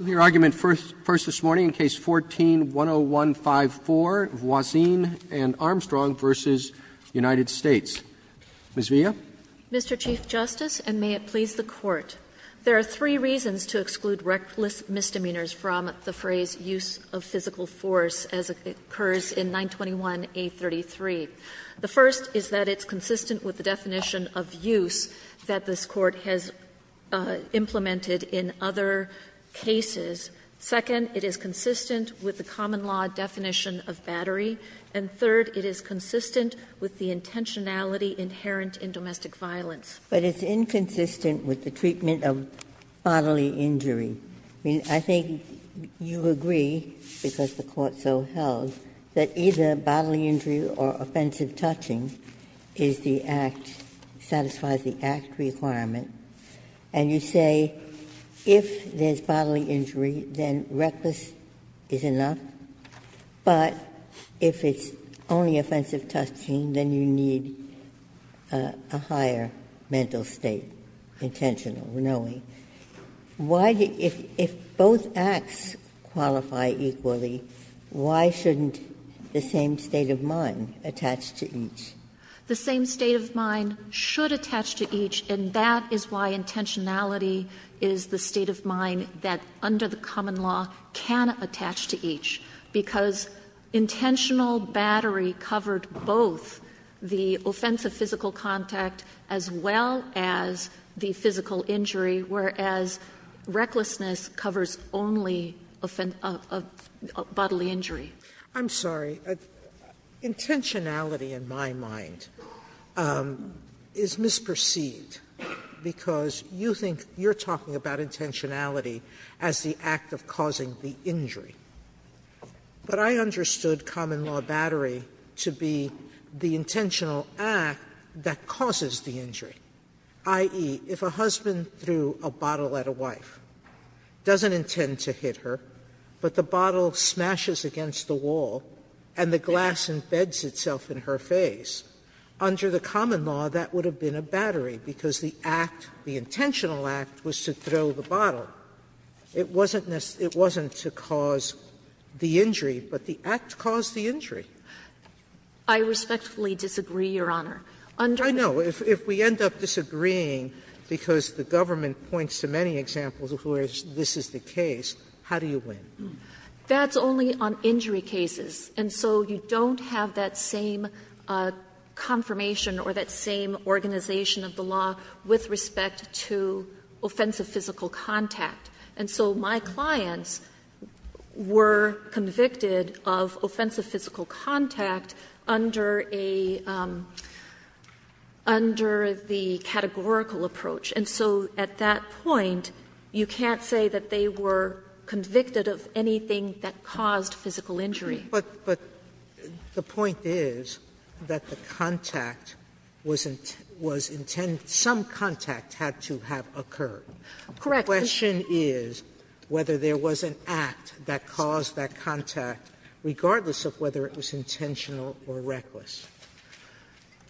Mr. Chief Justice, and may it please the Court, there are three reasons to exclude reckless misdemeanors from the phrase use of physical force as it occurs in 921A.33. The first is that it's consistent with the definition of use that this Court has implemented in other cases. Second, it is consistent with the common law definition of battery. And third, it is consistent with the intentionality inherent in domestic violence. Ginsburg. But it's inconsistent with the treatment of bodily injury. I mean, I think you agree, because the Court so held, that either bodily injury or offensive touching is the act, satisfies the act requirement. And you say, if there's bodily injury, then reckless is enough, but if it's only offensive touching, then you need a higher mental state, intentional, knowing. Why do you – if both acts qualify equally, why shouldn't the same state of mind attach to each? The same state of mind should attach to each, and that is why intentionality is the state of mind that under the common law can attach to each, because intentional battery covered both the offensive physical contact as well as the physical injury, whereas recklessness covers only bodily injury. Sotomayor, I'm sorry. Intentionality, in my mind, is misperceived, because you think you're talking about intentionality as the act of causing the injury. But I understood common law battery to be the intentional act that causes the injury, i.e., if a husband threw a bottle at a wife, doesn't intend to hit her, but the bottle smashes against the wall and the glass embeds itself in her face, under the common law, that would have been a battery, because the act, the intentional act, was to throw the bottle. It wasn't to cause the injury, but the act caused the injury. I respectfully disagree, Your Honor. Under the common law, if we end up disagreeing because the government points to many examples where this is the case, how do you win? That's only on injury cases. And so you don't have that same confirmation or that same organization of the law with respect to offensive physical contact. And so my clients were convicted of offensive physical contact under a under the categorical approach. And so at that point, you can't say that they were convicted of anything that caused Sotomayor, but the point is that the contact was intent to have occurred. Correct. The question is whether there was an act that caused that contact, regardless of whether it was intentional or reckless.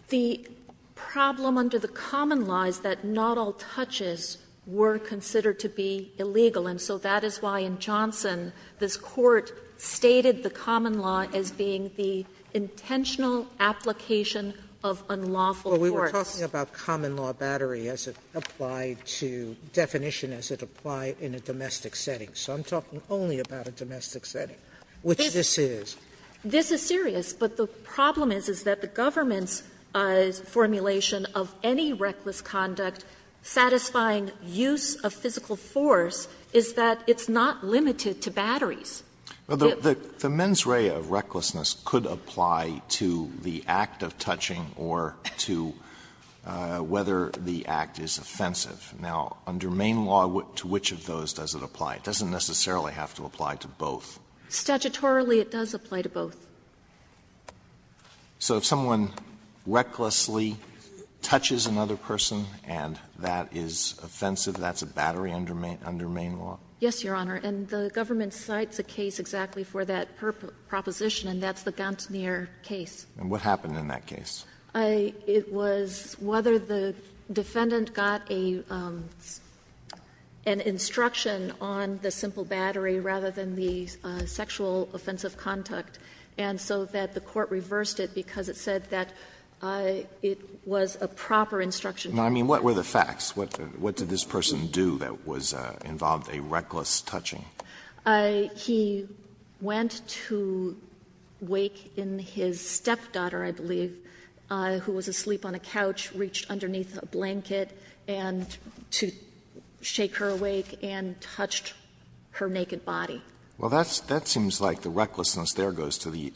The problem under the common law is that not all touches were considered to be illegal, and so that is why in Johnson this Court stated the common law as being the intentional application of unlawful force. Sotomayor, we were talking about common law battery as it applied to definition as it applied in a domestic setting. So I'm talking only about a domestic setting, which this is. This is serious, but the problem is, is that the government's formulation of any reckless conduct satisfying use of physical force is that it's not limited to batteries. Alito, the mens rea of recklessness could apply to the act of touching or to whether the act is offensive. Now, under main law, to which of those does it apply? It doesn't necessarily have to apply to both. Statutorily, it does apply to both. So if someone recklessly touches another person and that is offensive, that's a battery under main law? Yes, Your Honor. And the government cites a case exactly for that proposition, and that's the Gantner case. And what happened in that case? It was whether the defendant got an instruction on the simple battery rather than the sexual offensive conduct, and so that the court reversed it because it said that it was a proper instruction. Now, I mean, what were the facts? What did this person do that was involved a reckless touching? He went to wake in his stepdaughter, I believe, who was asleep on a couch, reached underneath a blanket, and to shake her awake and touched her naked body. Well, that seems like the recklessness there goes to the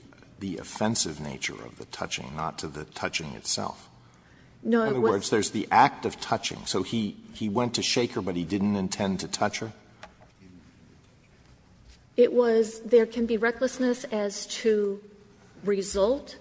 offensive nature of the touching, not to the touching itself. In other words, there's the act of touching. So he went to shake her, but he didn't intend to touch her? It was there can be recklessness as to result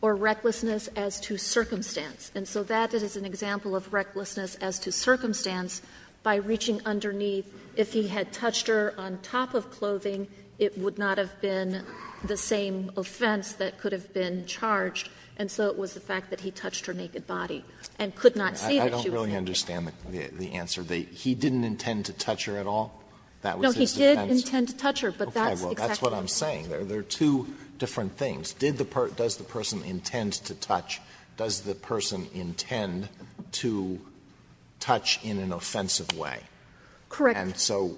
or recklessness as to circumstance. And so that is an example of recklessness as to circumstance by reaching underneath a blanket, if he had touched her on top of clothing, it would not have been the same offense that could have been charged. And so it was the fact that he touched her naked body and could not see that she was naked. Alito I don't really understand the answer. He didn't intend to touch her at all? That was his offense? No, he did intend to touch her, but that's exactly what he was doing. Okay. Well, that's what I'm saying. There are two different things. Did the person or does the person intend to touch, does the person intend to touch in an offensive way? Correct. And so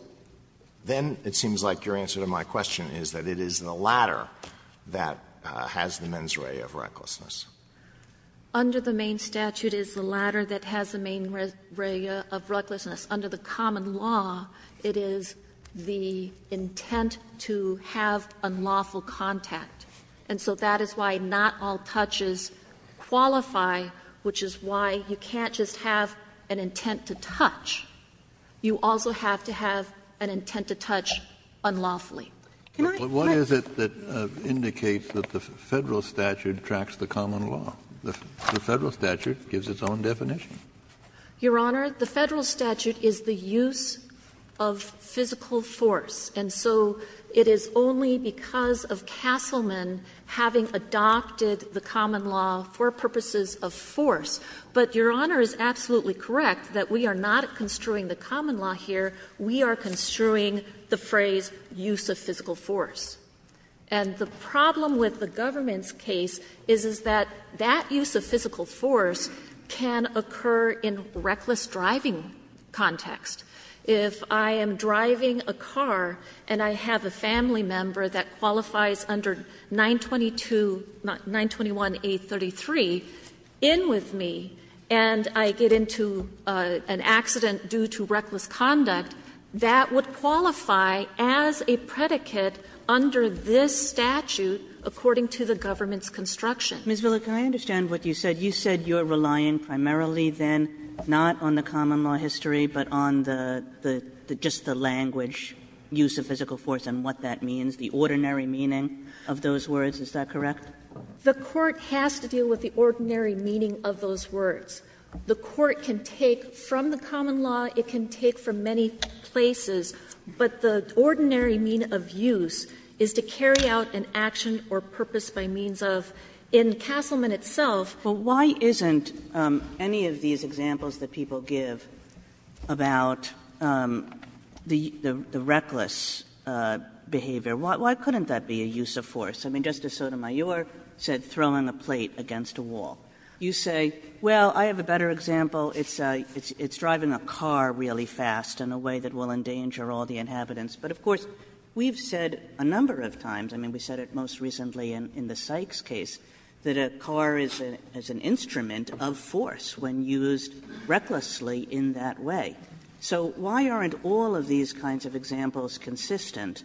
then it seems like your answer to my question is that it is the latter that has the mens rea of recklessness. Under the main statute, it is the latter that has the mens rea of recklessness. Under the common law, it is the intent to have unlawful contact. And so that is why not all touches qualify, which is why you can't just have an intent to touch. You also have to have an intent to touch unlawfully. What is it that indicates that the Federal statute tracks the common law? The Federal statute gives its own definition. Your Honor, the Federal statute is the use of physical force. And so it is only because of Castleman having adopted the common law for purposes of force. But Your Honor is absolutely correct that we are not construing the common law here. We are construing the phrase use of physical force. And the problem with the government's case is that that use of physical force can occur in reckless driving context. If I am driving a car and I have a family member that qualifies under 921A33, in with me, and I get into an accident due to reckless conduct, that would qualify as a predicate under this statute according to the government's construction. Kagan. Ms. Villa, can I understand what you said? You said you are relying primarily, then, not on the common law history, but on the just the language, use of physical force, and what that means, the ordinary meaning of those words. Is that correct? The Court has to deal with the ordinary meaning of those words. The Court can take from the common law, it can take from many places, but the ordinary mean of use is to carry out an action or purpose by means of, in Castleman itself. But why isn't any of these examples that people give about the reckless behavior, why couldn't that be a use of force? I mean, Justice Sotomayor said throwing a plate against a wall. You say, well, I have a better example. It's driving a car really fast in a way that will endanger all the inhabitants. But, of course, we have said a number of times, I mean, we said it most recently in the Sykes case, that a car is an instrument of force when used recklessly in that way. So why aren't all of these kinds of examples consistent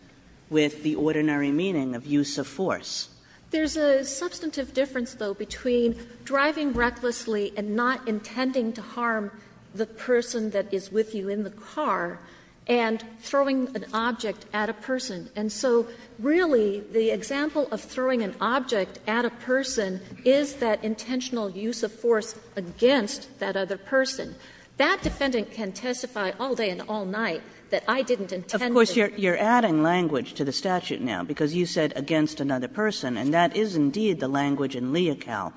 with the ordinary meaning of use of force? There's a substantive difference, though, between driving recklessly and not intending to harm the person that is with you in the car and throwing an object at a person. And so really the example of throwing an object at a person is that intentional use of force against that other person. That defendant can testify all day and all night that I didn't intend to. Kagan Of course, you are adding language to the statute now, because you said against another person, and that is indeed the language in Leocal,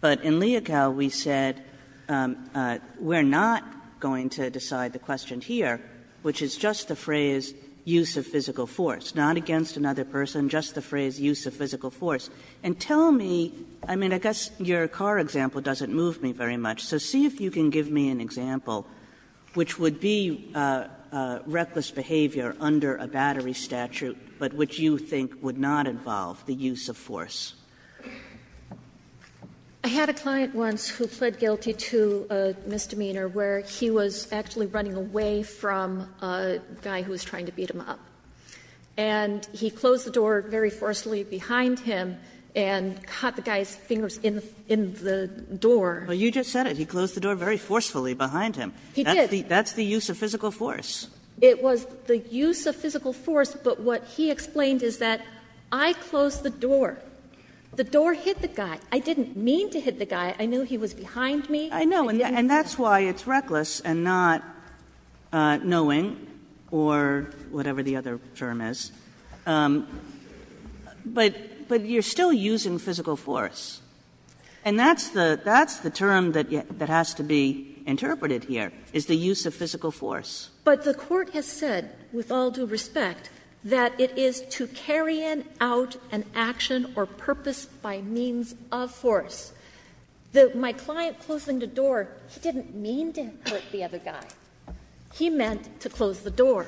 but in Leocal we said we are not going to decide the question here, which is just the phrase use of physical force, not against another person, just the phrase use of physical force. And tell me, I mean, I guess your car example doesn't move me very much, so see if you can give me an example, which would be reckless behavior under a battery statute, but which you think would not involve the use of force. I had a client once who pled guilty to a misdemeanor where he was actually running away from a guy who was trying to beat him up, and he closed the door very forcefully behind him and caught the guy's fingers in the door. Kagan Well, you just said it, he closed the door very forcefully behind him. That's the use of physical force. It was the use of physical force, but what he explained is that I closed the door. The door hit the guy. I didn't mean to hit the guy. I knew he was behind me. I didn't mean to. Kagan I know, and that's why it's reckless and not knowing, or whatever the other term is. But you are still using physical force. And that's the term that has to be interpreted here, is the use of physical force. But the Court has said, with all due respect, that it is to carry out an action or purpose by means of force. My client closing the door, he didn't mean to hurt the other guy. He meant to close the door.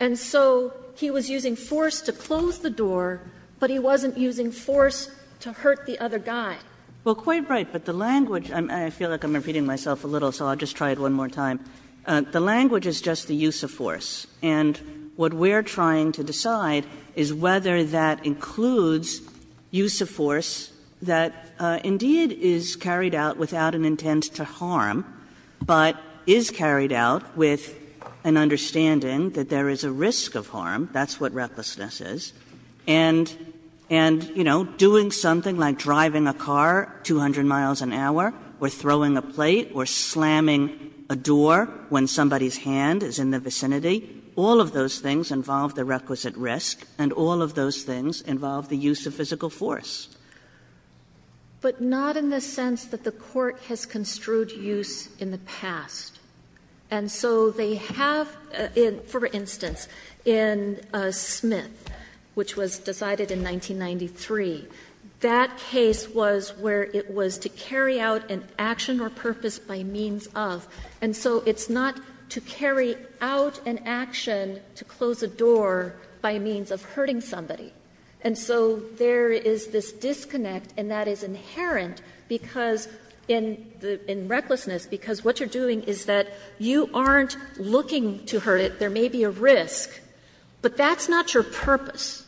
And so he was using force to close the door, but he wasn't using force to hurt the other guy. Kagan Well, quite right. But the language — I feel like I'm repeating myself a little, so I'll just try it one more time. The language is just the use of force. And what we're trying to decide is whether that includes use of force that indeed is carried out without an intent to harm, but is carried out with an understanding that there is a risk of harm. That's what recklessness is. And, you know, doing something like driving a car 200 miles an hour or throwing a plate or slamming a door when somebody's hand is in the vicinity, all of those things involve the requisite risk, and all of those things involve the use of physical force. But not in the sense that the Court has construed use in the past. And so they have, for instance, in Smith, which was decided in 1993, that case was where it was to carry out an action or purpose by means of, and so it's not to carry out an action to close a door by means of hurting somebody. And so there is this disconnect, and that is inherent because in the — in recklessness, because what you're doing is that you aren't looking to hurt it. There may be a risk, but that's not your purpose.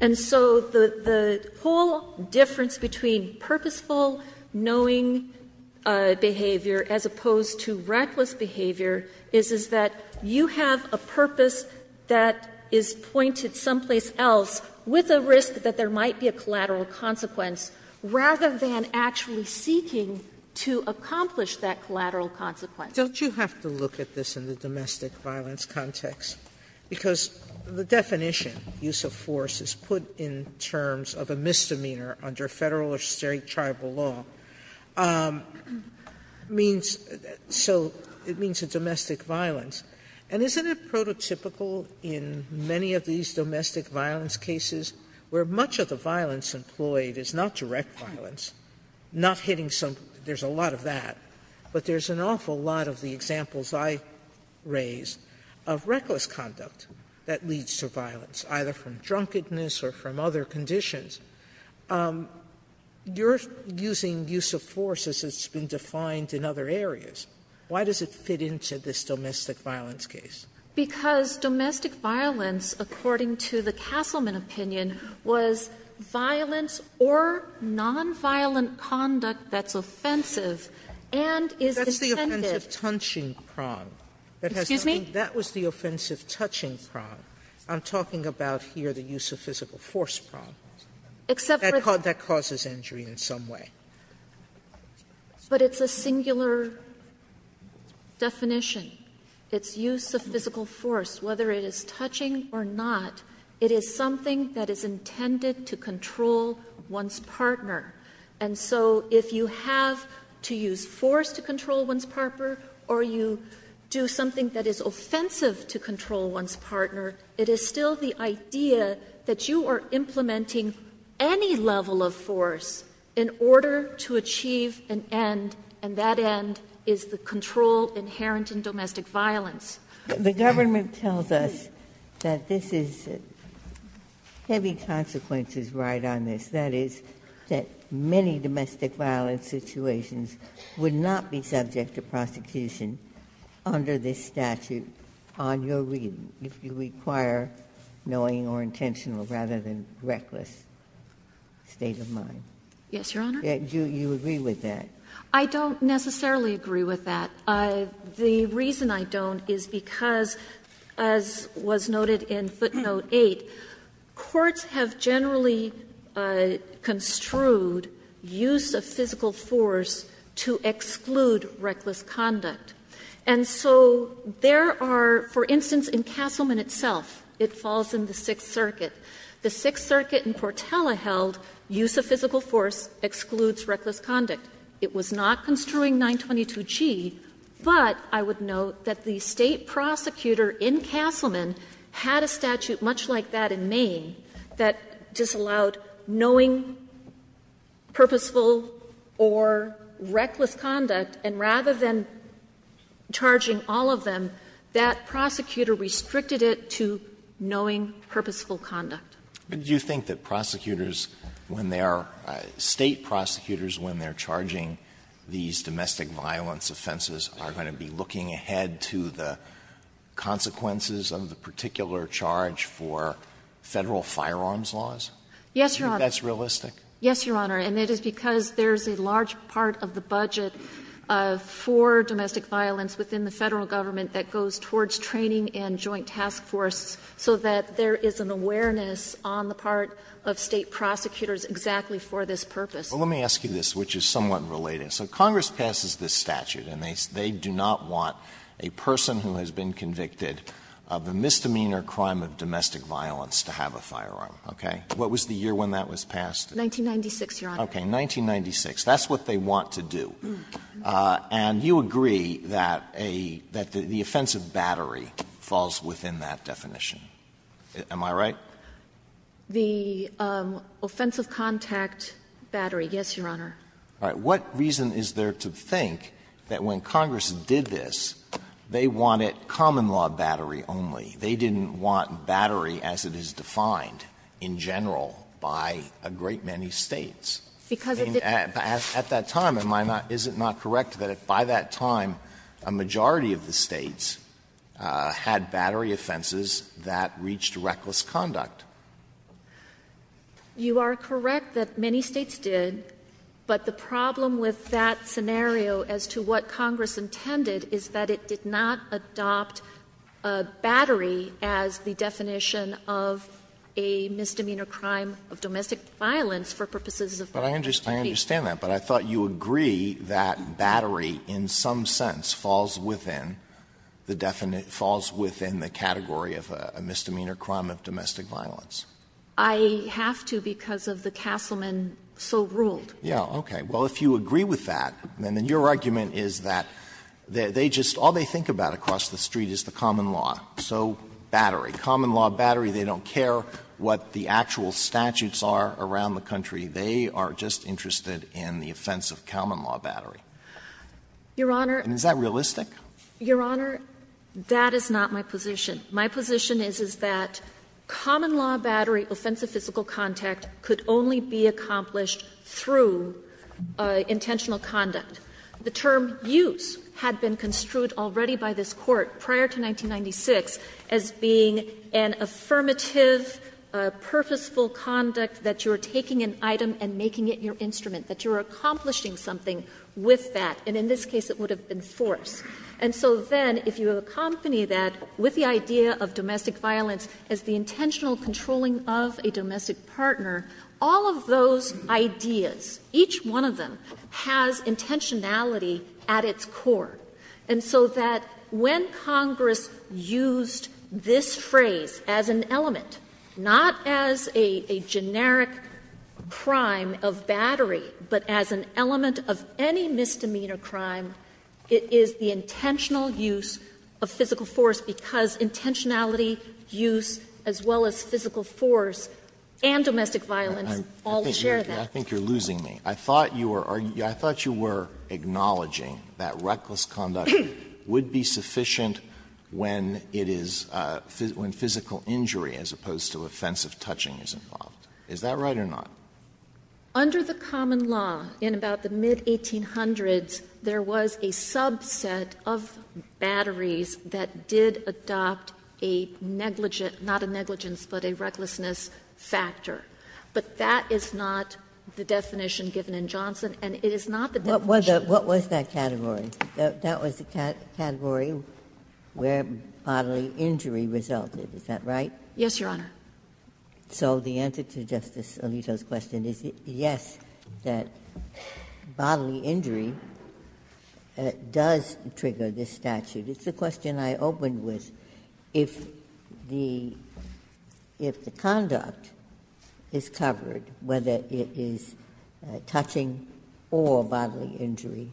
And so the whole difference between purposeful knowing behavior as opposed to reckless behavior is, is that you have a purpose that is pointed someplace else with a risk that there might be a collateral consequence, rather than actually seeking to accomplish that collateral consequence. Sotomayor, don't you have to look at this in the domestic violence context? Because the definition, use of force, is put in terms of a misdemeanor under Federal or State tribal law, means — so it means a domestic violence. And isn't it prototypical in many of these domestic violence cases where much of the violence employed is not direct violence, not hitting some — there's a lot of that, but there's an awful lot of the examples I raised of reckless conduct that leads to violence, either from drunkenness or from other conditions. You're using use of force as it's been defined in other areas. Why does it fit into this domestic violence case? Because domestic violence, according to the Castleman opinion, was violence or nonviolent conduct that's offensive and is intended — Sotomayor, that's the offensive-touching prong. That has to be — Excuse me? That was the offensive-touching prong. I'm talking about here the use of physical force prong. Except for the — That causes injury in some way. But it's a singular definition. It's use of physical force, whether it is touching or not, it is something that is intended to control one's partner. And so if you have to use force to control one's partner or you do something that is offensive to control one's partner, it is still the idea that you are implementing any level of force in order to achieve an end, and that end is the control inherent in domestic violence. The government tells us that this is — heavy consequences ride on this, that is, that many domestic violence situations would not be subject to prosecution under this statute on your reading if you require knowing or intentional rather than reckless state of mind. Yes, Your Honor. Do you agree with that? I don't necessarily agree with that. The reason I don't is because, as was noted in footnote 8, courts have generally construed use of physical force to exclude reckless conduct. And so there are, for instance, in Castleman itself, it falls in the Sixth Circuit. The Sixth Circuit in Portela held use of physical force excludes reckless conduct. It was not construing 922G, but I would note that the State prosecutor in Castleman had a statute much like that in Maine that disallowed knowing, purposeful or reckless conduct, and rather than charging all of them, that prosecutor restricted it to knowing purposeful conduct. But do you think that prosecutors, when they are — State prosecutors, when they are charging these domestic violence offenses, are going to be looking ahead to the consequences of the particular charge for Federal firearms laws? Yes, Your Honor. Do you think that's realistic? Yes, Your Honor. And it is because there is a large part of the budget for domestic violence within the Federal government that goes towards training and joint task force so that there is an awareness on the part of State prosecutors exactly for this purpose. Well, let me ask you this, which is somewhat related. So Congress passes this statute, and they do not want a person who has been convicted of a misdemeanor crime of domestic violence to have a firearm, okay? What was the year when that was passed? 1996, Your Honor. Okay, 1996. That's what they want to do. And you agree that a — that the offensive battery falls within that definition. Am I right? The offensive contact battery, yes, Your Honor. All right. What reason is there to think that when Congress did this, they wanted common-law battery only? They didn't want battery as it is defined in general by a great many States. Because it didn't — At that time, am I not — is it not correct that by that time a majority of the States had battery offenses that reached reckless conduct? You are correct that many States did, but the problem with that scenario as to what Congress intended is that it did not adopt battery as the definition of a misdemeanor crime of domestic violence for purposes of domestic abuse. But I understand that, but I thought you would agree that battery in some sense falls within the definition — falls within the category of a misdemeanor crime of domestic violence. I have to because of the Castleman so ruled. Yeah, okay. Well, if you agree with that, then your argument is that they just — all they think about across the street is the common law, so battery, common-law battery. They don't care what the actual statutes are around the country. They are just interested in the offensive common-law battery. Your Honor. And is that realistic? Your Honor, that is not my position. My position is, is that common-law battery offensive physical contact could only be accomplished through intentional conduct. The term used had been construed already by this Court prior to 1996 as being an affirmative, purposeful conduct that you are taking an item and making it your instrument, that you are accomplishing something with that. And in this case, it would have been force. And so then, if you accompany that with the idea of domestic violence as the intentional controlling of a domestic partner, all of those ideas, each one of them, has intentionality at its core. And so that when Congress used this phrase as an element, not as a generic crime of battery, but as an element of any misdemeanor crime, it is the intentional use of physical force, because intentionality, use, as well as physical force and domestic violence all share that. Alito, I think you are losing me. I thought you were acknowledging that reckless conduct would be sufficient when it is, when physical injury as opposed to offensive touching is involved. Is that right or not? Under the common law, in about the mid-1800s, there was a subset of batteries that did adopt a negligent, not a negligence, but a recklessness factor. But that is not the definition given in Johnson, and it is not the definition of the law. Ginsburg. What was that category? That was the category where bodily injury resulted, is that right? Yes, Your Honor. So the answer to Justice Alito's question is yes, that bodily injury does trigger this statute. It's the question I opened with. If the conduct is covered, whether it is touching or bodily injury,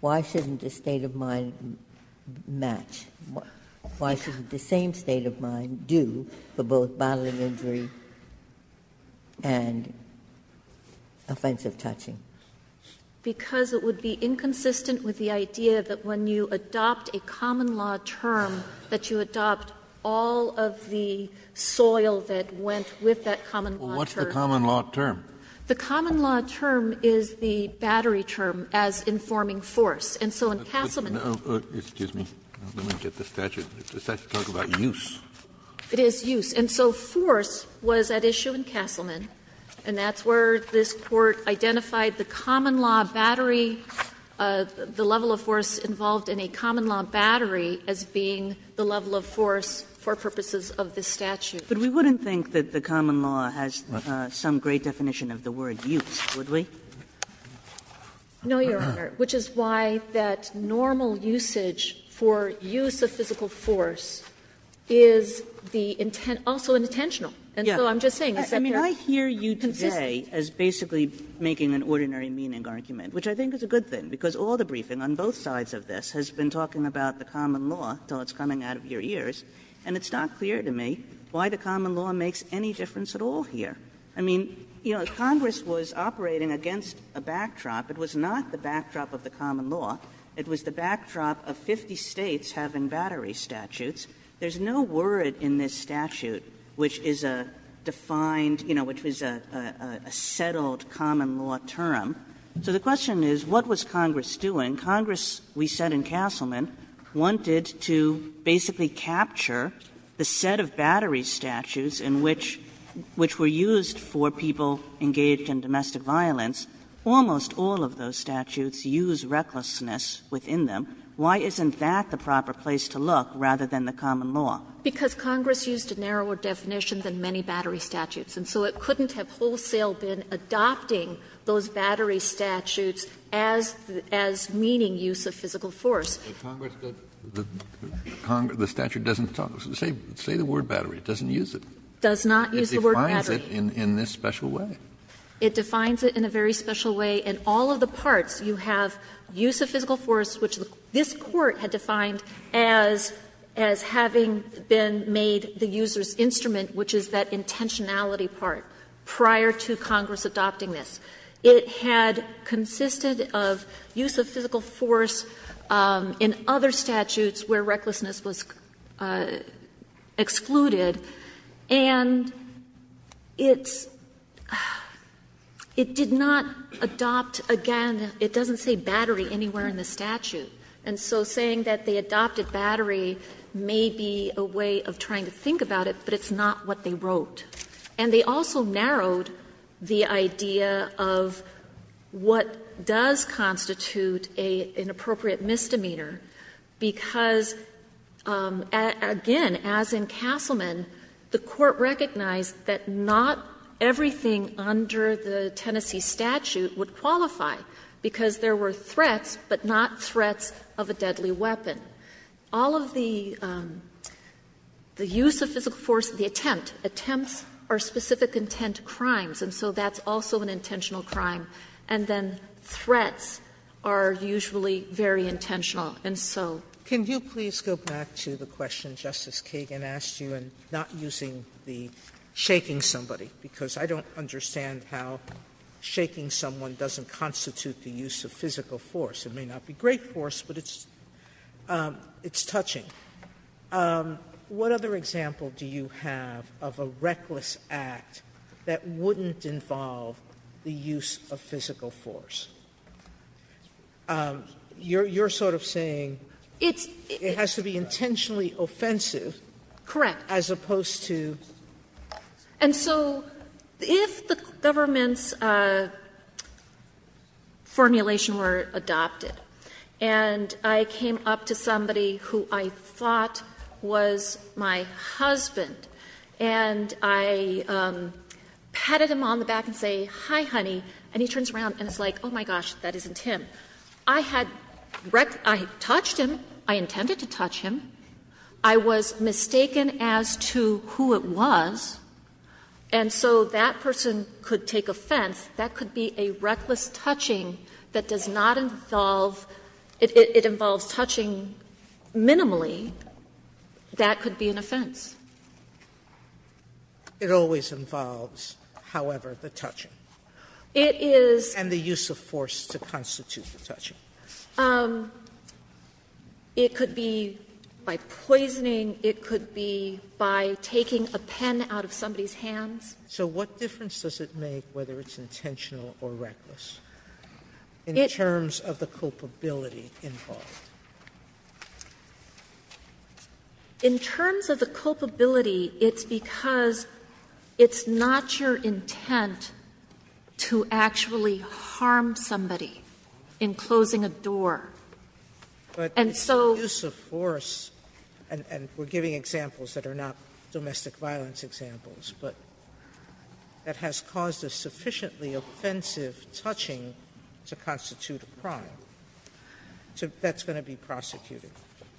why shouldn't the state of mind match? Why shouldn't the same state of mind do for both bodily injury and offensive touching? Because it would be inconsistent with the idea that when you adopt a common law term, that you adopt all of the soil that went with that common law term. Well, what's the common law term? The common law term is the battery term as informing force. I don't get the statute. The statute talks about use. It is use. And so force was at issue in Castleman, and that's where this Court identified the common law battery, the level of force involved in a common law battery as being the level of force for purposes of this statute. But we wouldn't think that the common law has some great definition of the word use, would we? No, Your Honor, which is why that normal usage for use of physical force is the intent also intentional. And so I'm just saying it's not there. I mean, I hear you today as basically making an ordinary meaning argument, which I think is a good thing, because all the briefing on both sides of this has been talking about the common law until it's coming out of your ears, and it's not clear to me why the common law makes any difference at all here. I mean, you know, Congress was operating against a backdrop. It was not the backdrop of the common law. It was the backdrop of 50 States having battery statutes. There's no word in this statute which is a defined, you know, which was a settled common law term. So the question is, what was Congress doing? Congress, we said in Castleman, wanted to basically capture the set of battery statutes in which, which were used for people engaged in domestic violence. Almost all of those statutes use recklessness within them. Why isn't that the proper place to look rather than the common law? Because Congress used a narrower definition than many battery statutes, and so it couldn't have wholesale been adopting those battery statutes as meaning use of physical force. Kennedy, the statute doesn't talk, say the word battery, it doesn't use it. It defines it in this special way. It defines it in a very special way. In all of the parts, you have use of physical force, which this Court had defined as having been made the user's instrument, which is that intentionality part, prior to Congress adopting this. It had consisted of use of physical force in other statutes where recklessness was excluded, and it's — it did not adopt, again, it doesn't say battery anywhere in the statute. And so saying that they adopted battery may be a way of trying to think about it, but it's not what they wrote. And they also narrowed the idea of what does constitute an appropriate misdemeanor, because, again, as in Castleman, the Court recognized that not everything under the Tennessee statute would qualify, because there were threats, but not threats of a deadly weapon. All of the use of physical force, the attempt, attempts are specific intent crimes, and so that's also an intentional crime. And then threats are usually very intentional, and so. Sotomayor, can you please go back to the question Justice Kagan asked you, and not using the shaking somebody, because I don't understand how shaking someone doesn't constitute the use of physical force. It may not be great force, but it's touching. What other example do you have of a reckless act that wouldn't involve the use of physical force? You're sort of saying it has to be intentionally offensive. Correct. As opposed to? And so if the government's formulation were adopted, and I came up to somebody who I thought was my husband, and I patted him on the back and say, hi, honey, and he turns around and is like, oh, my gosh, that isn't him. I had touched him, I intended to touch him. I was mistaken as to who it was, and so that person could take offense. That could be a reckless touching that does not involve – it involves touching minimally. That could be an offense. It always involves, however, the touching. It is. And the use of force to constitute the touching. It could be by poisoning. It could be by taking a pen out of somebody's hands. So what difference does it make whether it's intentional or reckless in terms of the culpability involved? In terms of the culpability, it's because it's not your intent to actually harm somebody in closing a door. And so – Sotomayor's Court, and we're giving examples that are not domestic violence examples, but that has caused a sufficiently offensive touching to constitute a crime. So that's going to be prosecuted.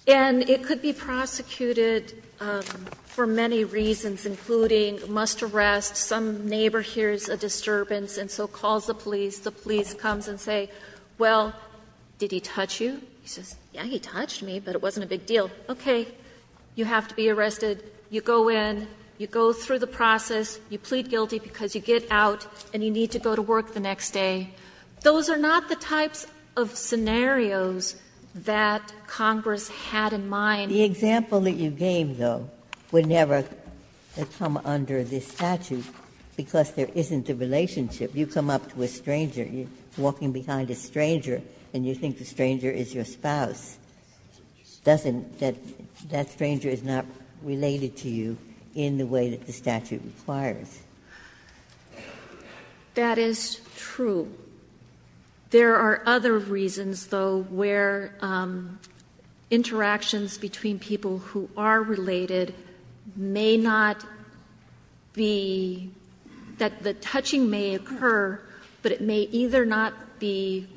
And it could be prosecuted for many reasons, including must arrest. Some neighbor hears a disturbance and so calls the police. The police comes and say, well, did he touch you? He says, yes, he touched me, but it wasn't a big deal. Okay. You have to be arrested. You go in. You go through the process. You plead guilty because you get out and you need to go to work the next day. Those are not the types of scenarios that Congress had in mind. Ginsburg's Court, the example that you gave, though, would never come under this statute because there isn't a relationship. You come up to a stranger, you're walking behind a stranger, and you think the stranger is your spouse, doesn't that – that stranger is not related to you in the way that the statute requires. That is true. There are other reasons, though, where interactions between people who are related may not be – that the touching may occur, but it may either not be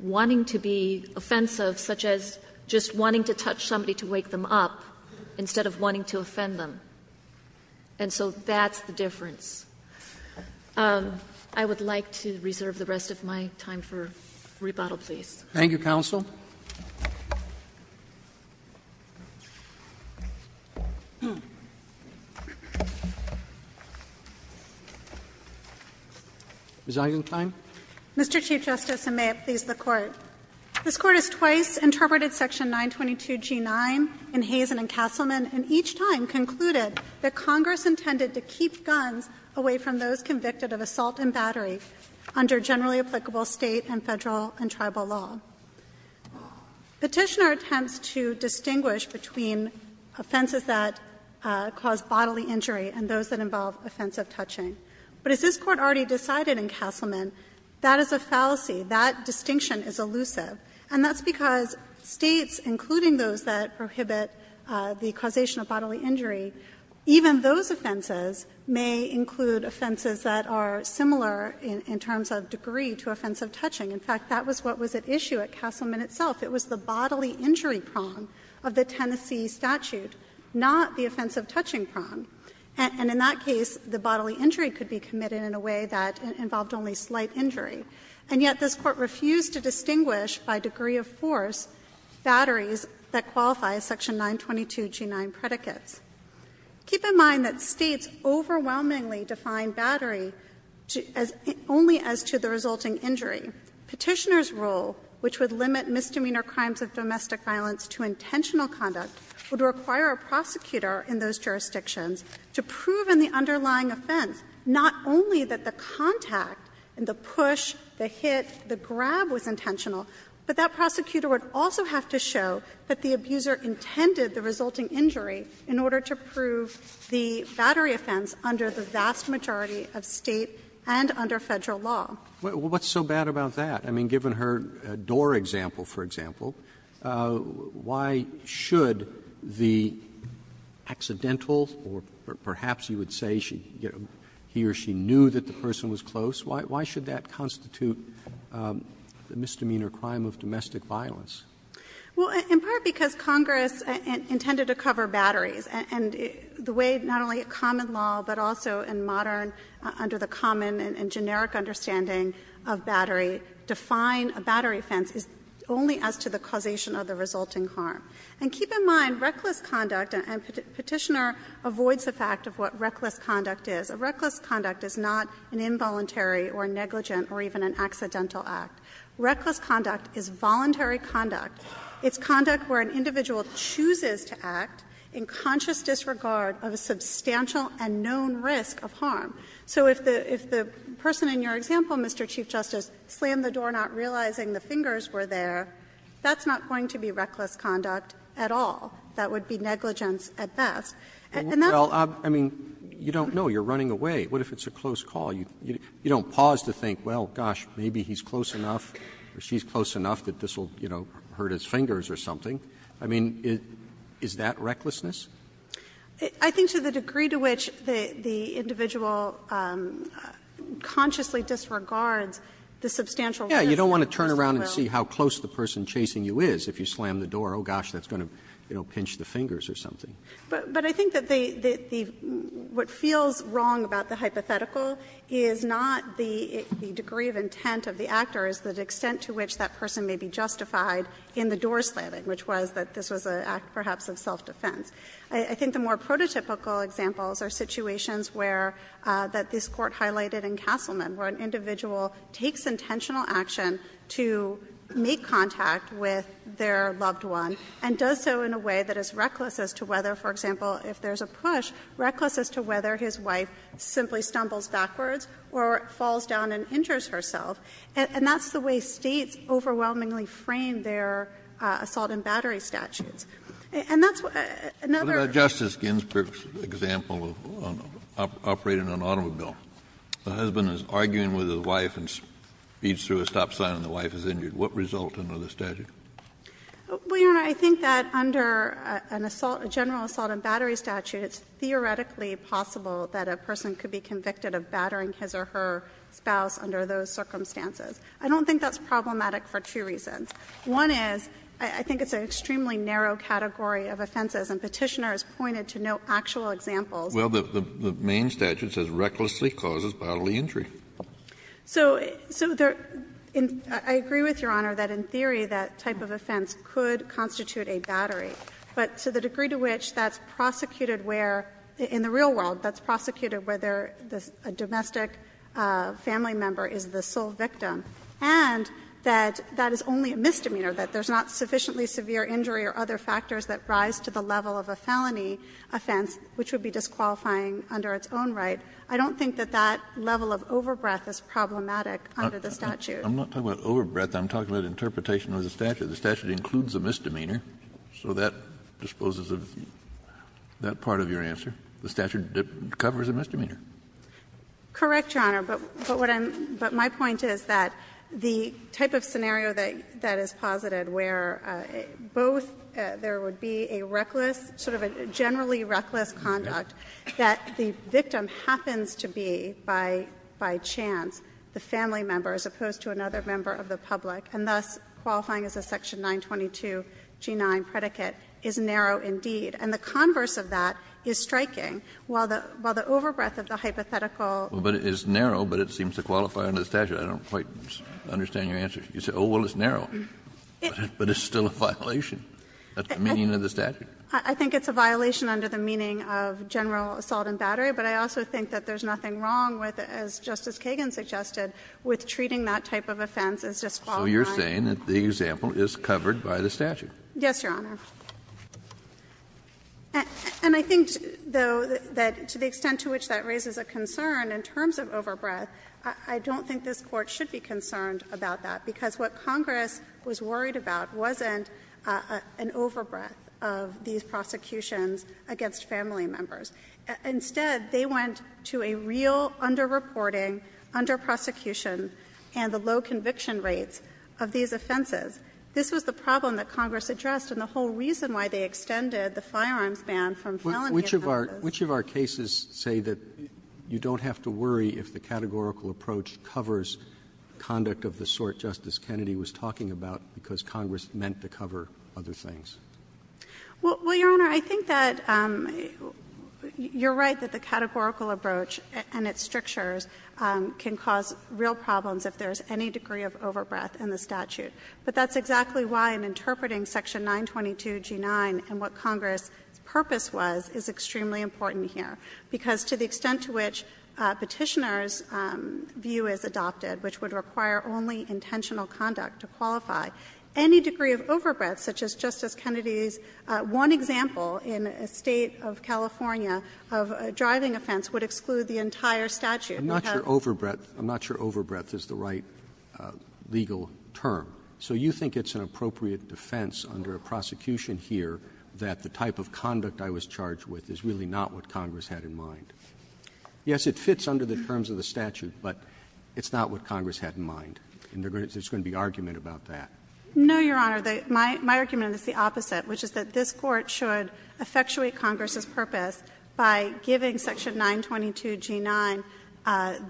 wanting to be offensive, such as just wanting to touch somebody to wake them up, instead of wanting to offend them. And so that's the difference. I would like to reserve the rest of my time for rebuttal, please. Roberts. Thank you, counsel. Ms. Eisenstein. Mr. Chief Justice, and may it please the Court. This Court has twice interpreted section 922G9 in Hazen and Castleman, and each time concluded that Congress intended to keep guns away from those convicted of assault in battery under generally applicable State and Federal and Tribal law. Petitioner attempts to distinguish between offenses that cause bodily injury and those that involve offensive touching. But as this Court already decided in Castleman, that is a fallacy. That distinction is elusive. And that's because States, including those that prohibit the causation of bodily injury, even those offenses may include offenses that are similar in terms of degree to offensive touching. In fact, that was what was at issue at Castleman itself. It was the bodily injury prong of the Tennessee statute, not the offensive touching prong. And in that case, the bodily injury could be committed in a way that involved only slight injury. And yet this Court refused to distinguish by degree of force batteries that qualify as section 922G9 predicates. Keep in mind that States overwhelmingly define battery only as to the resulting injury. Petitioner's rule, which would limit misdemeanor crimes of domestic violence to intentional conduct, would require a prosecutor in those jurisdictions to prove in the underlying offense not only that the contact and the push, the hit, the grab was intentional, but that prosecutor would also have to show that the abuser intended the resulting injury in order to prove the battery offense under the vast majority of State and under Federal law. Roberts, what's so bad about that? I mean, given her door example, for example, why should the accidental, or perhaps you would say she, he or she knew that the person was close, why should that constitute the misdemeanor crime of domestic violence? Well, in part because Congress intended to cover batteries. And the way not only common law, but also in modern, under the common and generic understanding of battery, define a battery offense is only as to the causation of the resulting harm. And keep in mind, reckless conduct, and Petitioner avoids the fact of what reckless conduct is. A reckless conduct is not an involuntary or negligent or even an accidental act. Reckless conduct is voluntary conduct. It's conduct where an individual chooses to act in conscious disregard of a substantial and known risk of harm. So if the person in your example, Mr. Chief Justice, slammed the door not realizing the fingers were there, that's not going to be reckless conduct at all. And that's why I'm saying it's not an involuntary or negligent act. Well, I mean, you don't know. You're running away. What if it's a close call? You don't pause to think, well, gosh, maybe he's close enough or she's close enough that this will, you know, hurt his fingers or something. I mean, is that recklessness? I think to the degree to which the individual consciously disregards the substantial risk of harm as well. Yeah. You don't want to turn around and see how close the person chasing you is if you slam the door. Oh, gosh, that's going to, you know, pinch the fingers or something. But I think that the what feels wrong about the hypothetical is not the degree of intent of the actor, it's the extent to which that person may be justified in the door slamming, which was that this was an act perhaps of self-defense. I think the more prototypical examples are situations where, that this Court highlighted in Castleman, where an individual takes intentional action to make contact with their partner, for example, if there's a push, reckless as to whether his wife simply stumbles backwards or falls down and injures herself. And that's the way States overwhelmingly frame their assault and battery statutes. And that's another. Kennedy. What about Justice Ginsburg's example of operating an automobile? The husband is arguing with his wife and speeds through a stop sign and the wife is injured. What result under the statute? Well, Your Honor, I think that under an assault, a general assault and battery statute, it's theoretically possible that a person could be convicted of battering his or her spouse under those circumstances. I don't think that's problematic for two reasons. One is, I think it's an extremely narrow category of offenses, and Petitioner has pointed to no actual examples. Well, the main statute says recklessly causes bodily injury. So I agree with Your Honor that, in theory, that type of offense could constitute a battery, but to the degree to which that's prosecuted where, in the real world, that's prosecuted whether a domestic family member is the sole victim, and that that is only a misdemeanor, that there's not sufficiently severe injury or other factors that rise to the level of a felony offense, which would be disqualifying under its own right, I don't think that that level of overbreath is problematic under the statute. Kennedy, I'm not talking about overbreath. I'm talking about interpretation of the statute. The statute includes a misdemeanor, so that disposes of that part of your answer. The statute covers a misdemeanor. Correct, Your Honor. But what I'm — but my point is that the type of scenario that is posited where both there would be a reckless, sort of a generally reckless conduct, that the victim happens to be, by chance, the family member as opposed to another member of the public, and thus qualifying as a section 922G9 predicate, is narrow indeed. And the converse of that is striking. While the overbreath of the hypothetical — Well, but it's narrow, but it seems to qualify under the statute. I don't quite understand your answer. You say, oh, well, it's narrow. But it's still a violation. That's the meaning of the statute. I think it's a violation under the meaning of general assault and battery. But I also think that there's nothing wrong with, as Justice Kagan suggested, with treating that type of offense as just qualifying. So you're saying that the example is covered by the statute? Yes, Your Honor. And I think, though, that to the extent to which that raises a concern in terms of overbreath, I don't think this Court should be concerned about that, because what Congress was worried about wasn't an overbreath of these prosecutions against family members. Instead, they went to a real underreporting, underprosecution, and the low conviction rates of these offenses. This was the problem that Congress addressed, and the whole reason why they extended the firearms ban from felony offenses. Which of our cases say that you don't have to worry if the categorical approach covers conduct of the sort Justice Kennedy was talking about, because Congress meant to cover other things? Well, Your Honor, I think that you're right that the categorical approach and its strictures can cause real problems if there's any degree of overbreath in the statute. But that's exactly why in interpreting Section 922G9 and what Congress's purpose was is extremely important here. Because to the extent to which Petitioner's view is adopted, which would require only intentional conduct to qualify, any degree of overbreath, such as Justice Kennedy's one example in a State of California of a driving offense, would exclude the entire statute. Roberts. Roberts. Roberts. I'm not sure overbreath is the right legal term. So you think it's an appropriate defense under a prosecution here that the type of statute that Congress had in mind? Yes, it fits under the terms of the statute, but it's not what Congress had in mind. And there's going to be argument about that. No, Your Honor. My argument is the opposite, which is that this Court should effectuate Congress's purpose by giving Section 922G9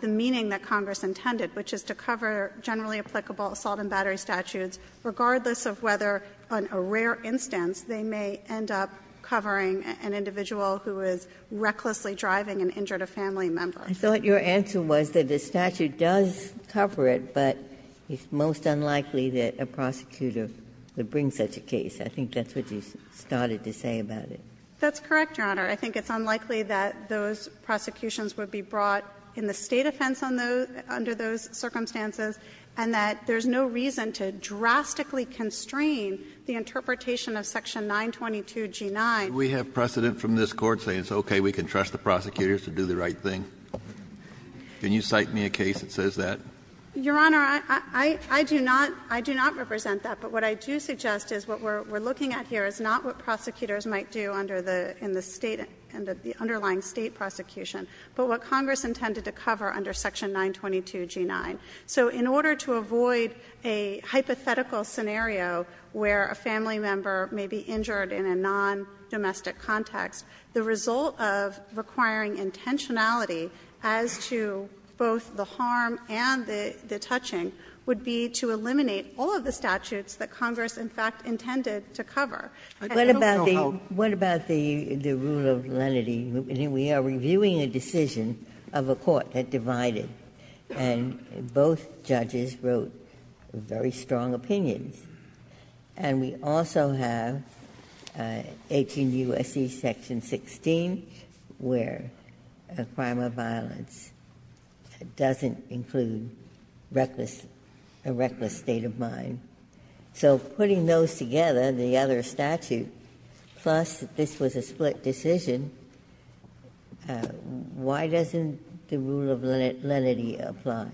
the meaning that Congress intended, which is to cover generally applicable assault and battery statutes, regardless of whether on a rare instance they may end up covering an individual who is recklessly driving and injured a family member. I thought your answer was that the statute does cover it, but it's most unlikely that a prosecutor would bring such a case. I think that's what you started to say about it. That's correct, Your Honor. I think it's unlikely that those prosecutions would be brought in the State offense under those circumstances, and that there's no reason to drastically constrain the interpretation of Section 922G9. Do we have precedent from this Court saying it's okay, we can trust the prosecutors to do the right thing? Can you cite me a case that says that? Your Honor, I do not represent that. But what I do suggest is what we're looking at here is not what prosecutors might do under the State, the underlying State prosecution, but what Congress intended to cover under Section 922G9. So in order to avoid a hypothetical scenario where a family member may be injured in a nondomestic context, the result of requiring intentionality as to both the harm and the touching would be to eliminate all of the statutes that Congress, in fact, intended to cover. And it will go home. Ginsburg-McGillivray What about the rule of lenity? We are reviewing a decision of a court that divided, and both judges wrote very strong opinions. And we also have 18 U.S.C. Section 16, where a crime of violence doesn't include a reckless state of mind. So putting those together, the other statute, plus this was a split decision, why doesn't the rule of lenity apply?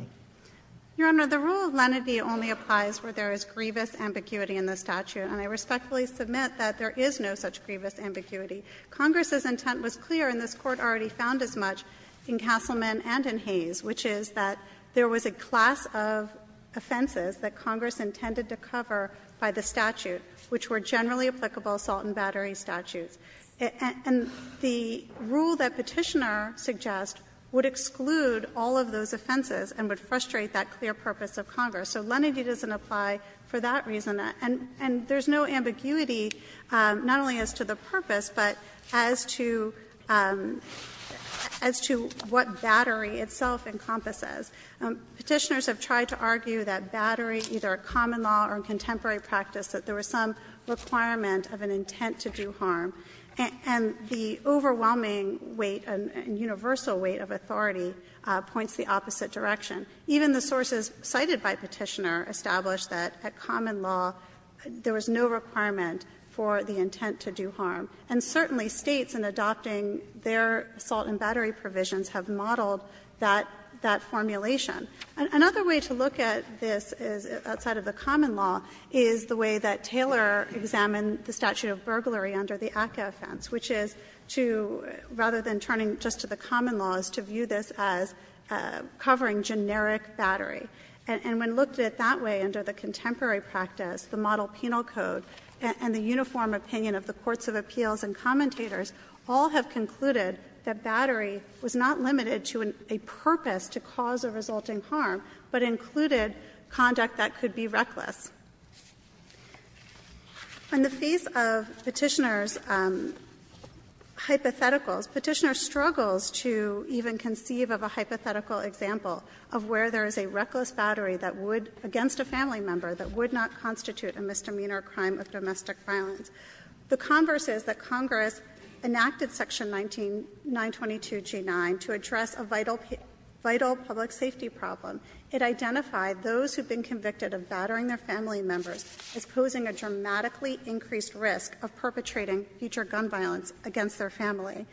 Your Honor, the rule of lenity only applies where there is grievous ambiguity in the statute. And I respectfully submit that there is no such grievous ambiguity. Congress's intent was clear, and this Court already found as much in Castleman and in Hayes, which is that there was a class of offenses that Congress intended to cover by the statute, which were generally applicable assault and battery statutes. And the rule that Petitioner suggests would exclude all of those offenses and would frustrate that clear purpose of Congress. So lenity doesn't apply for that reason. And there is no ambiguity, not only as to the purpose, but as to what battery itself encompasses. Petitioners have tried to argue that battery, either at common law or in contemporary practice, that there was some requirement of an intent to do harm. And the overwhelming weight and universal weight of authority points the opposite direction. Even the sources cited by Petitioner establish that at common law there was no requirement for the intent to do harm. And certainly States, in adopting their assault and battery provisions, have modeled that formulation. Another way to look at this is, outside of the common law, is the way that Taylor examined the statute of burglary under the ACCA offense, which is to, rather than turning just to the common law, is to view this as covering generic battery. And when looked at that way under the contemporary practice, the model penal code and the uniform opinion of the courts of appeals and commentators all have concluded that battery was not limited to a purpose to cause or result in harm, but included conduct that could be reckless. In the face of Petitioner's hypotheticals, Petitioner struggles to even conceive of a hypothetical example of where there is a reckless battery that would, against a family member, that would not constitute a misdemeanor crime of domestic violence. The converse is that Congress enacted section 922G9 to address a vital public safety problem. It identified those who had been convicted of battering their family members as posing a dramatically increased risk of perpetrating future gun violence against their family.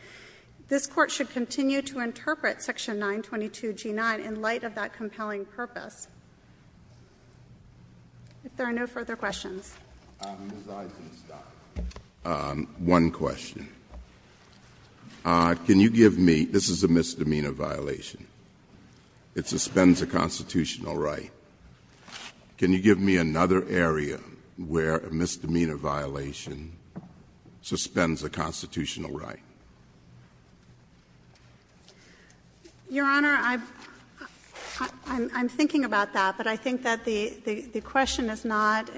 This Court should continue to interpret section 922G9 in light of that compelling purpose. If there are no further questions. Mr. Eisenstein, one question. Can you give me — this is a misdemeanor violation. It suspends a constitutional right. Can you give me another area where a misdemeanor violation suspends a constitutional right? Your Honor, I'm thinking about that, but I think that the question is not,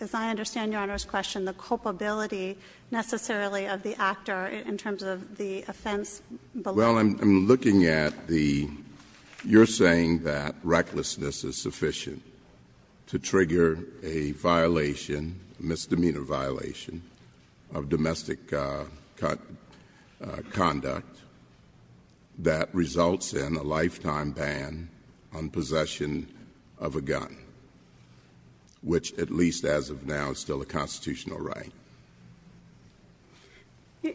as I understand Your Honor's question, the culpability necessarily of the actor in terms of the offense below. Well, I'm looking at the — you're saying that recklessness is sufficient to trigger a violation, misdemeanor violation of domestic conduct that results in a lifetime ban on possession of a gun, which at least as of now is still a constitutional right?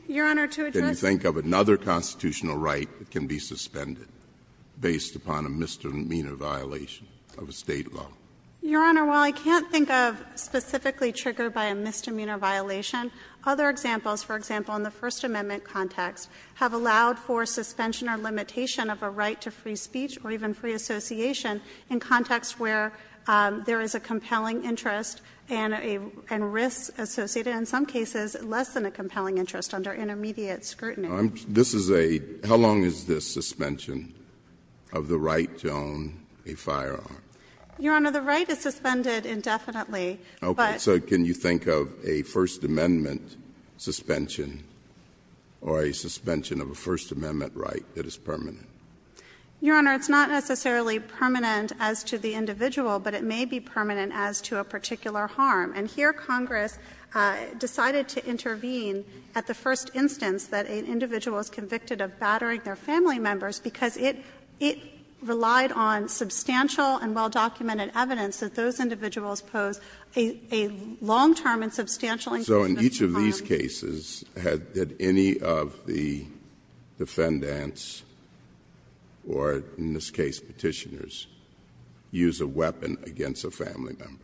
Your Honor, to address — Can you think of another constitutional right that can be suspended based upon a misdemeanor violation of a state law? Your Honor, while I can't think of specifically triggered by a misdemeanor violation, other examples, for example, in the First Amendment context, have allowed for suspension or limitation of a right to free speech or even free association in contexts where there is a compelling interest and risks associated, in some cases, less than a compelling interest under intermediate scrutiny. This is a — how long is this suspension of the right to own a firearm? Your Honor, the right is suspended indefinitely, but — Okay. So can you think of a First Amendment suspension or a suspension of a First Amendment right that is permanent? Your Honor, it's not necessarily permanent as to the individual, but it may be permanent as to a particular harm. And here Congress decided to intervene at the first instance that an individual is convicted of battering their family members because it — it relied on substantial and well-documented evidence that those individuals pose a long-term and substantial incumbent to crime. So in each of these cases, had — did any of the defendants or, in this case, Petitioners, use a weapon against a family member?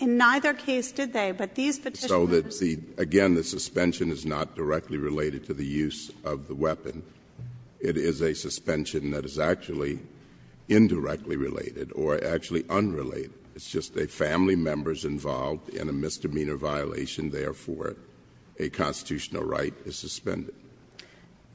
In neither case did they, but these Petitioners — So that the — again, the suspension is not directly related to the use of the weapon. It is a suspension that is actually indirectly related or actually unrelated. It's just a family member's involved in a misdemeanor violation, therefore a constitutional right is suspended.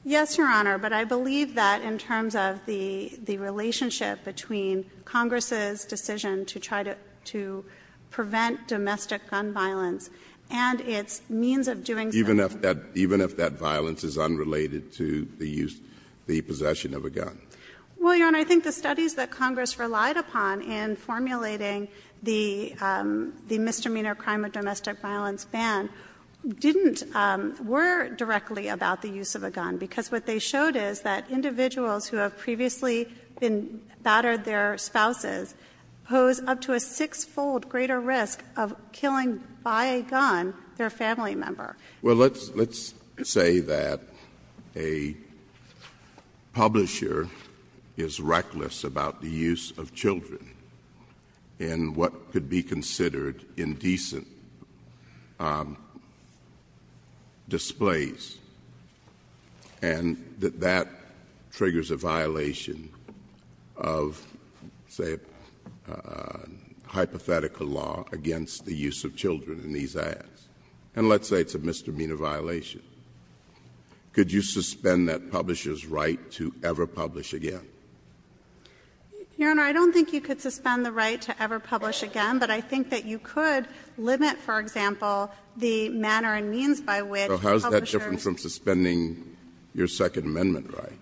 Yes, Your Honor, but I believe that in terms of the — the relationship between Congress's decision to try to — to prevent domestic gun violence and its means of doing so — Even if that — even if that violence is unrelated to the use — the possession of a gun. Well, Your Honor, I think the studies that Congress relied upon in formulating the misdemeanor crime of domestic violence ban didn't — were directly about the use of a gun because what they showed is that individuals who have previously been battered their spouses pose up to a six-fold greater risk of killing by a gun their family member. Well, let's — let's say that a publisher is reckless about the use of children in what could be considered indecent displays and that that triggers a violation of, say, a hypothetical law against the use of children in these ads. And let's say it's a misdemeanor violation. Could you suspend that publisher's right to ever publish again? Your Honor, I don't think you could suspend the right to ever publish again, but I think that you could limit, for example, the manner and means by which publishers — So how is that different from suspending your Second Amendment right?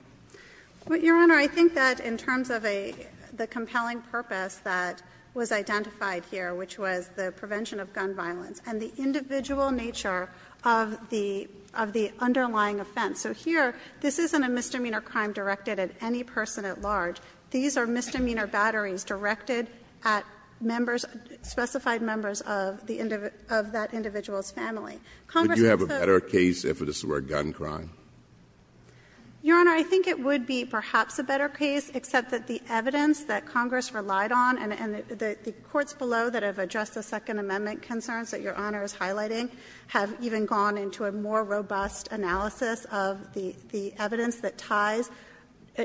Well, Your Honor, I think that in terms of a — the compelling purpose that was identified here, which was the prevention of gun violence, and the individual nature of the — of the underlying offense. So here, this isn't a misdemeanor crime directed at any person at large. These are misdemeanor batterings directed at members — specified members of the — of that individual's family. Congress has put — Could you have a better case if this were a gun crime? Your Honor, I think it would be perhaps a better case, except that the evidence that Congress relied on and the courts below that have addressed the Second Amendment concerns that Your Honor is highlighting have even gone into a more robust analysis of the evidence that ties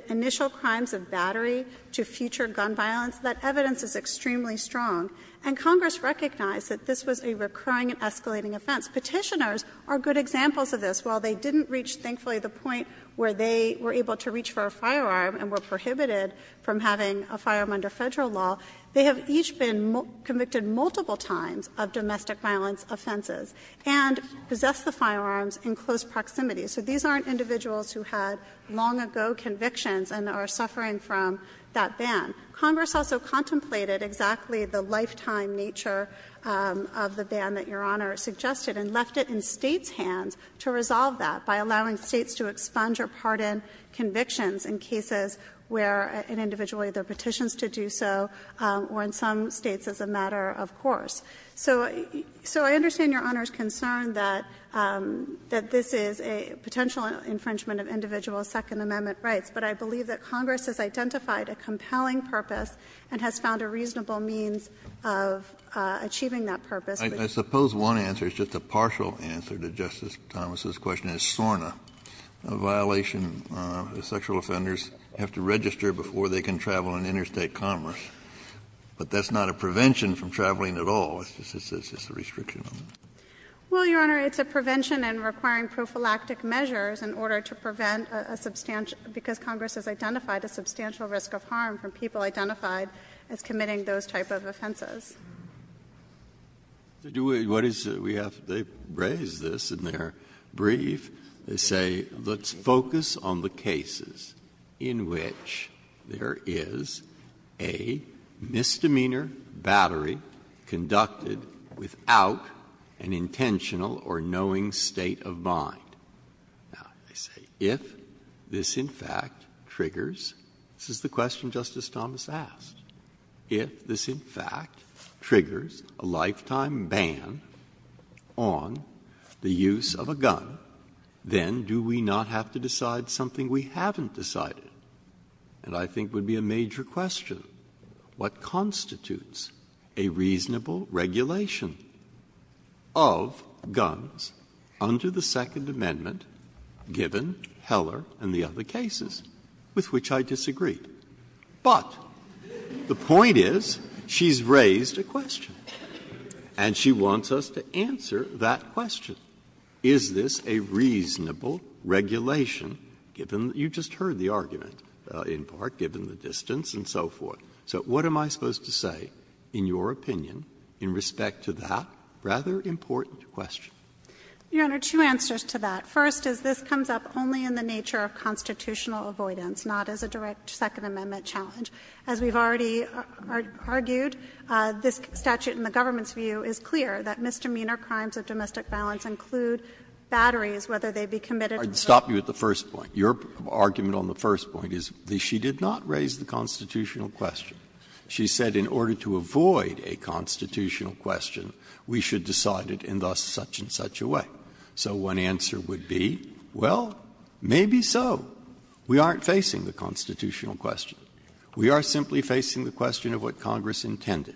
initial crimes of battery to future gun violence. That evidence is extremely strong. And Congress recognized that this was a recurring and escalating offense. Petitioners are good examples of this. While they didn't reach, thankfully, the point where they were able to reach for a firearm and were prohibited from having a firearm under Federal law, they have each been convicted multiple times of domestic violence offenses and possessed the firearms in close proximity. So these aren't individuals who had long-ago convictions and are suffering from that ban. Congress also contemplated exactly the lifetime nature of the ban that Your Honor suggested and left it in States' hands to resolve that by allowing States to expunge or pardon convictions in cases where an individual either petitions to do so, or in some States as a matter of course. So I understand Your Honor's concern that this is a potential infringement of individual Second Amendment rights, but I believe that Congress has identified a compelling purpose and has found a reasonable means of achieving that purpose. Kennedy, I suppose one answer is just a partial answer to Justice Thomas' question about what is known as SORNA, a violation that sexual offenders have to register before they can travel in interstate commerce, but that's not a prevention from traveling at all, it's just a restriction. Well, Your Honor, it's a prevention in requiring prophylactic measures in order to prevent a substantial, because Congress has identified a substantial risk of harm from people identified as committing those type of offenses. Breyer, what is it we have, they've raised this in their brief, they say, let's focus on the cases in which there is a misdemeanor battery conducted without an intentional or knowing state of mind. Now, they say, if this in fact triggers, this is the question Justice Thomas asked. If this in fact triggers a lifetime ban on the use of a gun, then do we not have to decide something we haven't decided? And I think would be a major question. What constitutes a reasonable regulation of guns under the Second Amendment given Heller and the other cases, with which I disagree? But the point is, she's raised a question, and she wants us to answer that question. Is this a reasonable regulation, given that you just heard the argument, in part, given the distance and so forth? So what am I supposed to say in your opinion in respect to that rather important question? Your Honor, two answers to that. First is this comes up only in the nature of constitutional avoidance, not as a direct answer to the Second Amendment challenge. As we've already argued, this statute in the government's view is clear that misdemeanor crimes of domestic violence include batteries, whether they be committed or not. Breyer, I'd stop you at the first point. Your argument on the first point is that she did not raise the constitutional question. She said in order to avoid a constitutional question, we should decide it in thus such-and-such a way. So one answer would be, well, maybe so. We aren't facing the constitutional question. We are simply facing the question of what Congress intended.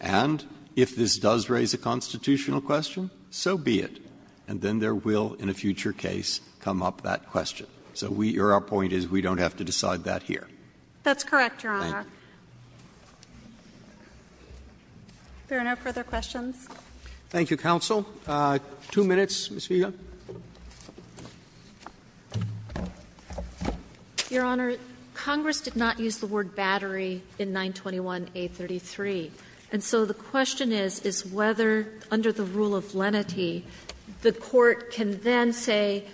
And if this does raise a constitutional question, so be it. And then there will, in a future case, come up that question. So we or our point is we don't have to decide that here. That's correct, Your Honor. Thank you. If there are no further questions. Thank you, counsel. Two minutes, Ms. Feigin. Your Honor, Congress did not use the word battery in 921A33. And so the question is, is whether under the rule of lenity the Court can then say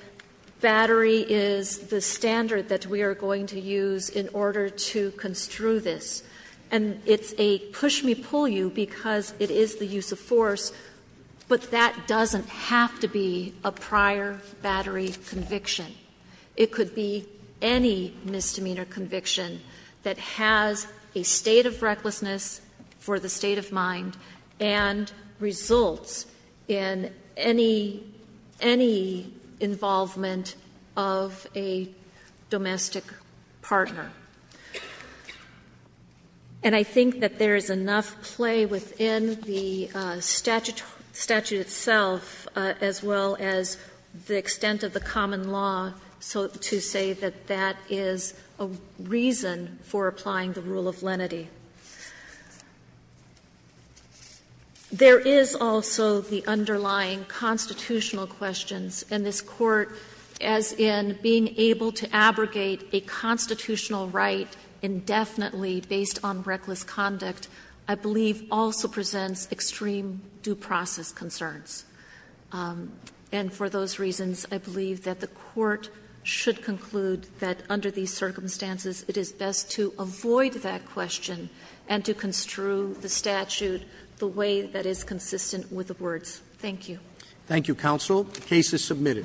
battery is the standard that we are going to use in order to construe this. And it's a push-me-pull-you because it is the use of force, but that is not the standard that we are going to use. And that doesn't have to be a prior battery conviction. It could be any misdemeanor conviction that has a state of recklessness for the state of mind and results in any involvement of a domestic partner. And I think that there is enough play within the statute itself, as well as the extent of the common law, to say that that is a reason for applying the rule of lenity. There is also the underlying constitutional questions in this Court as in being able to abrogate a constitutional right indefinitely based on reckless conduct, I believe, also presents extreme due process concerns. And for those reasons, I believe that the Court should conclude that under these circumstances it is best to avoid that question and to construe the statute the way that is consistent with the words. Thank you. Thank you, counsel. The case is submitted.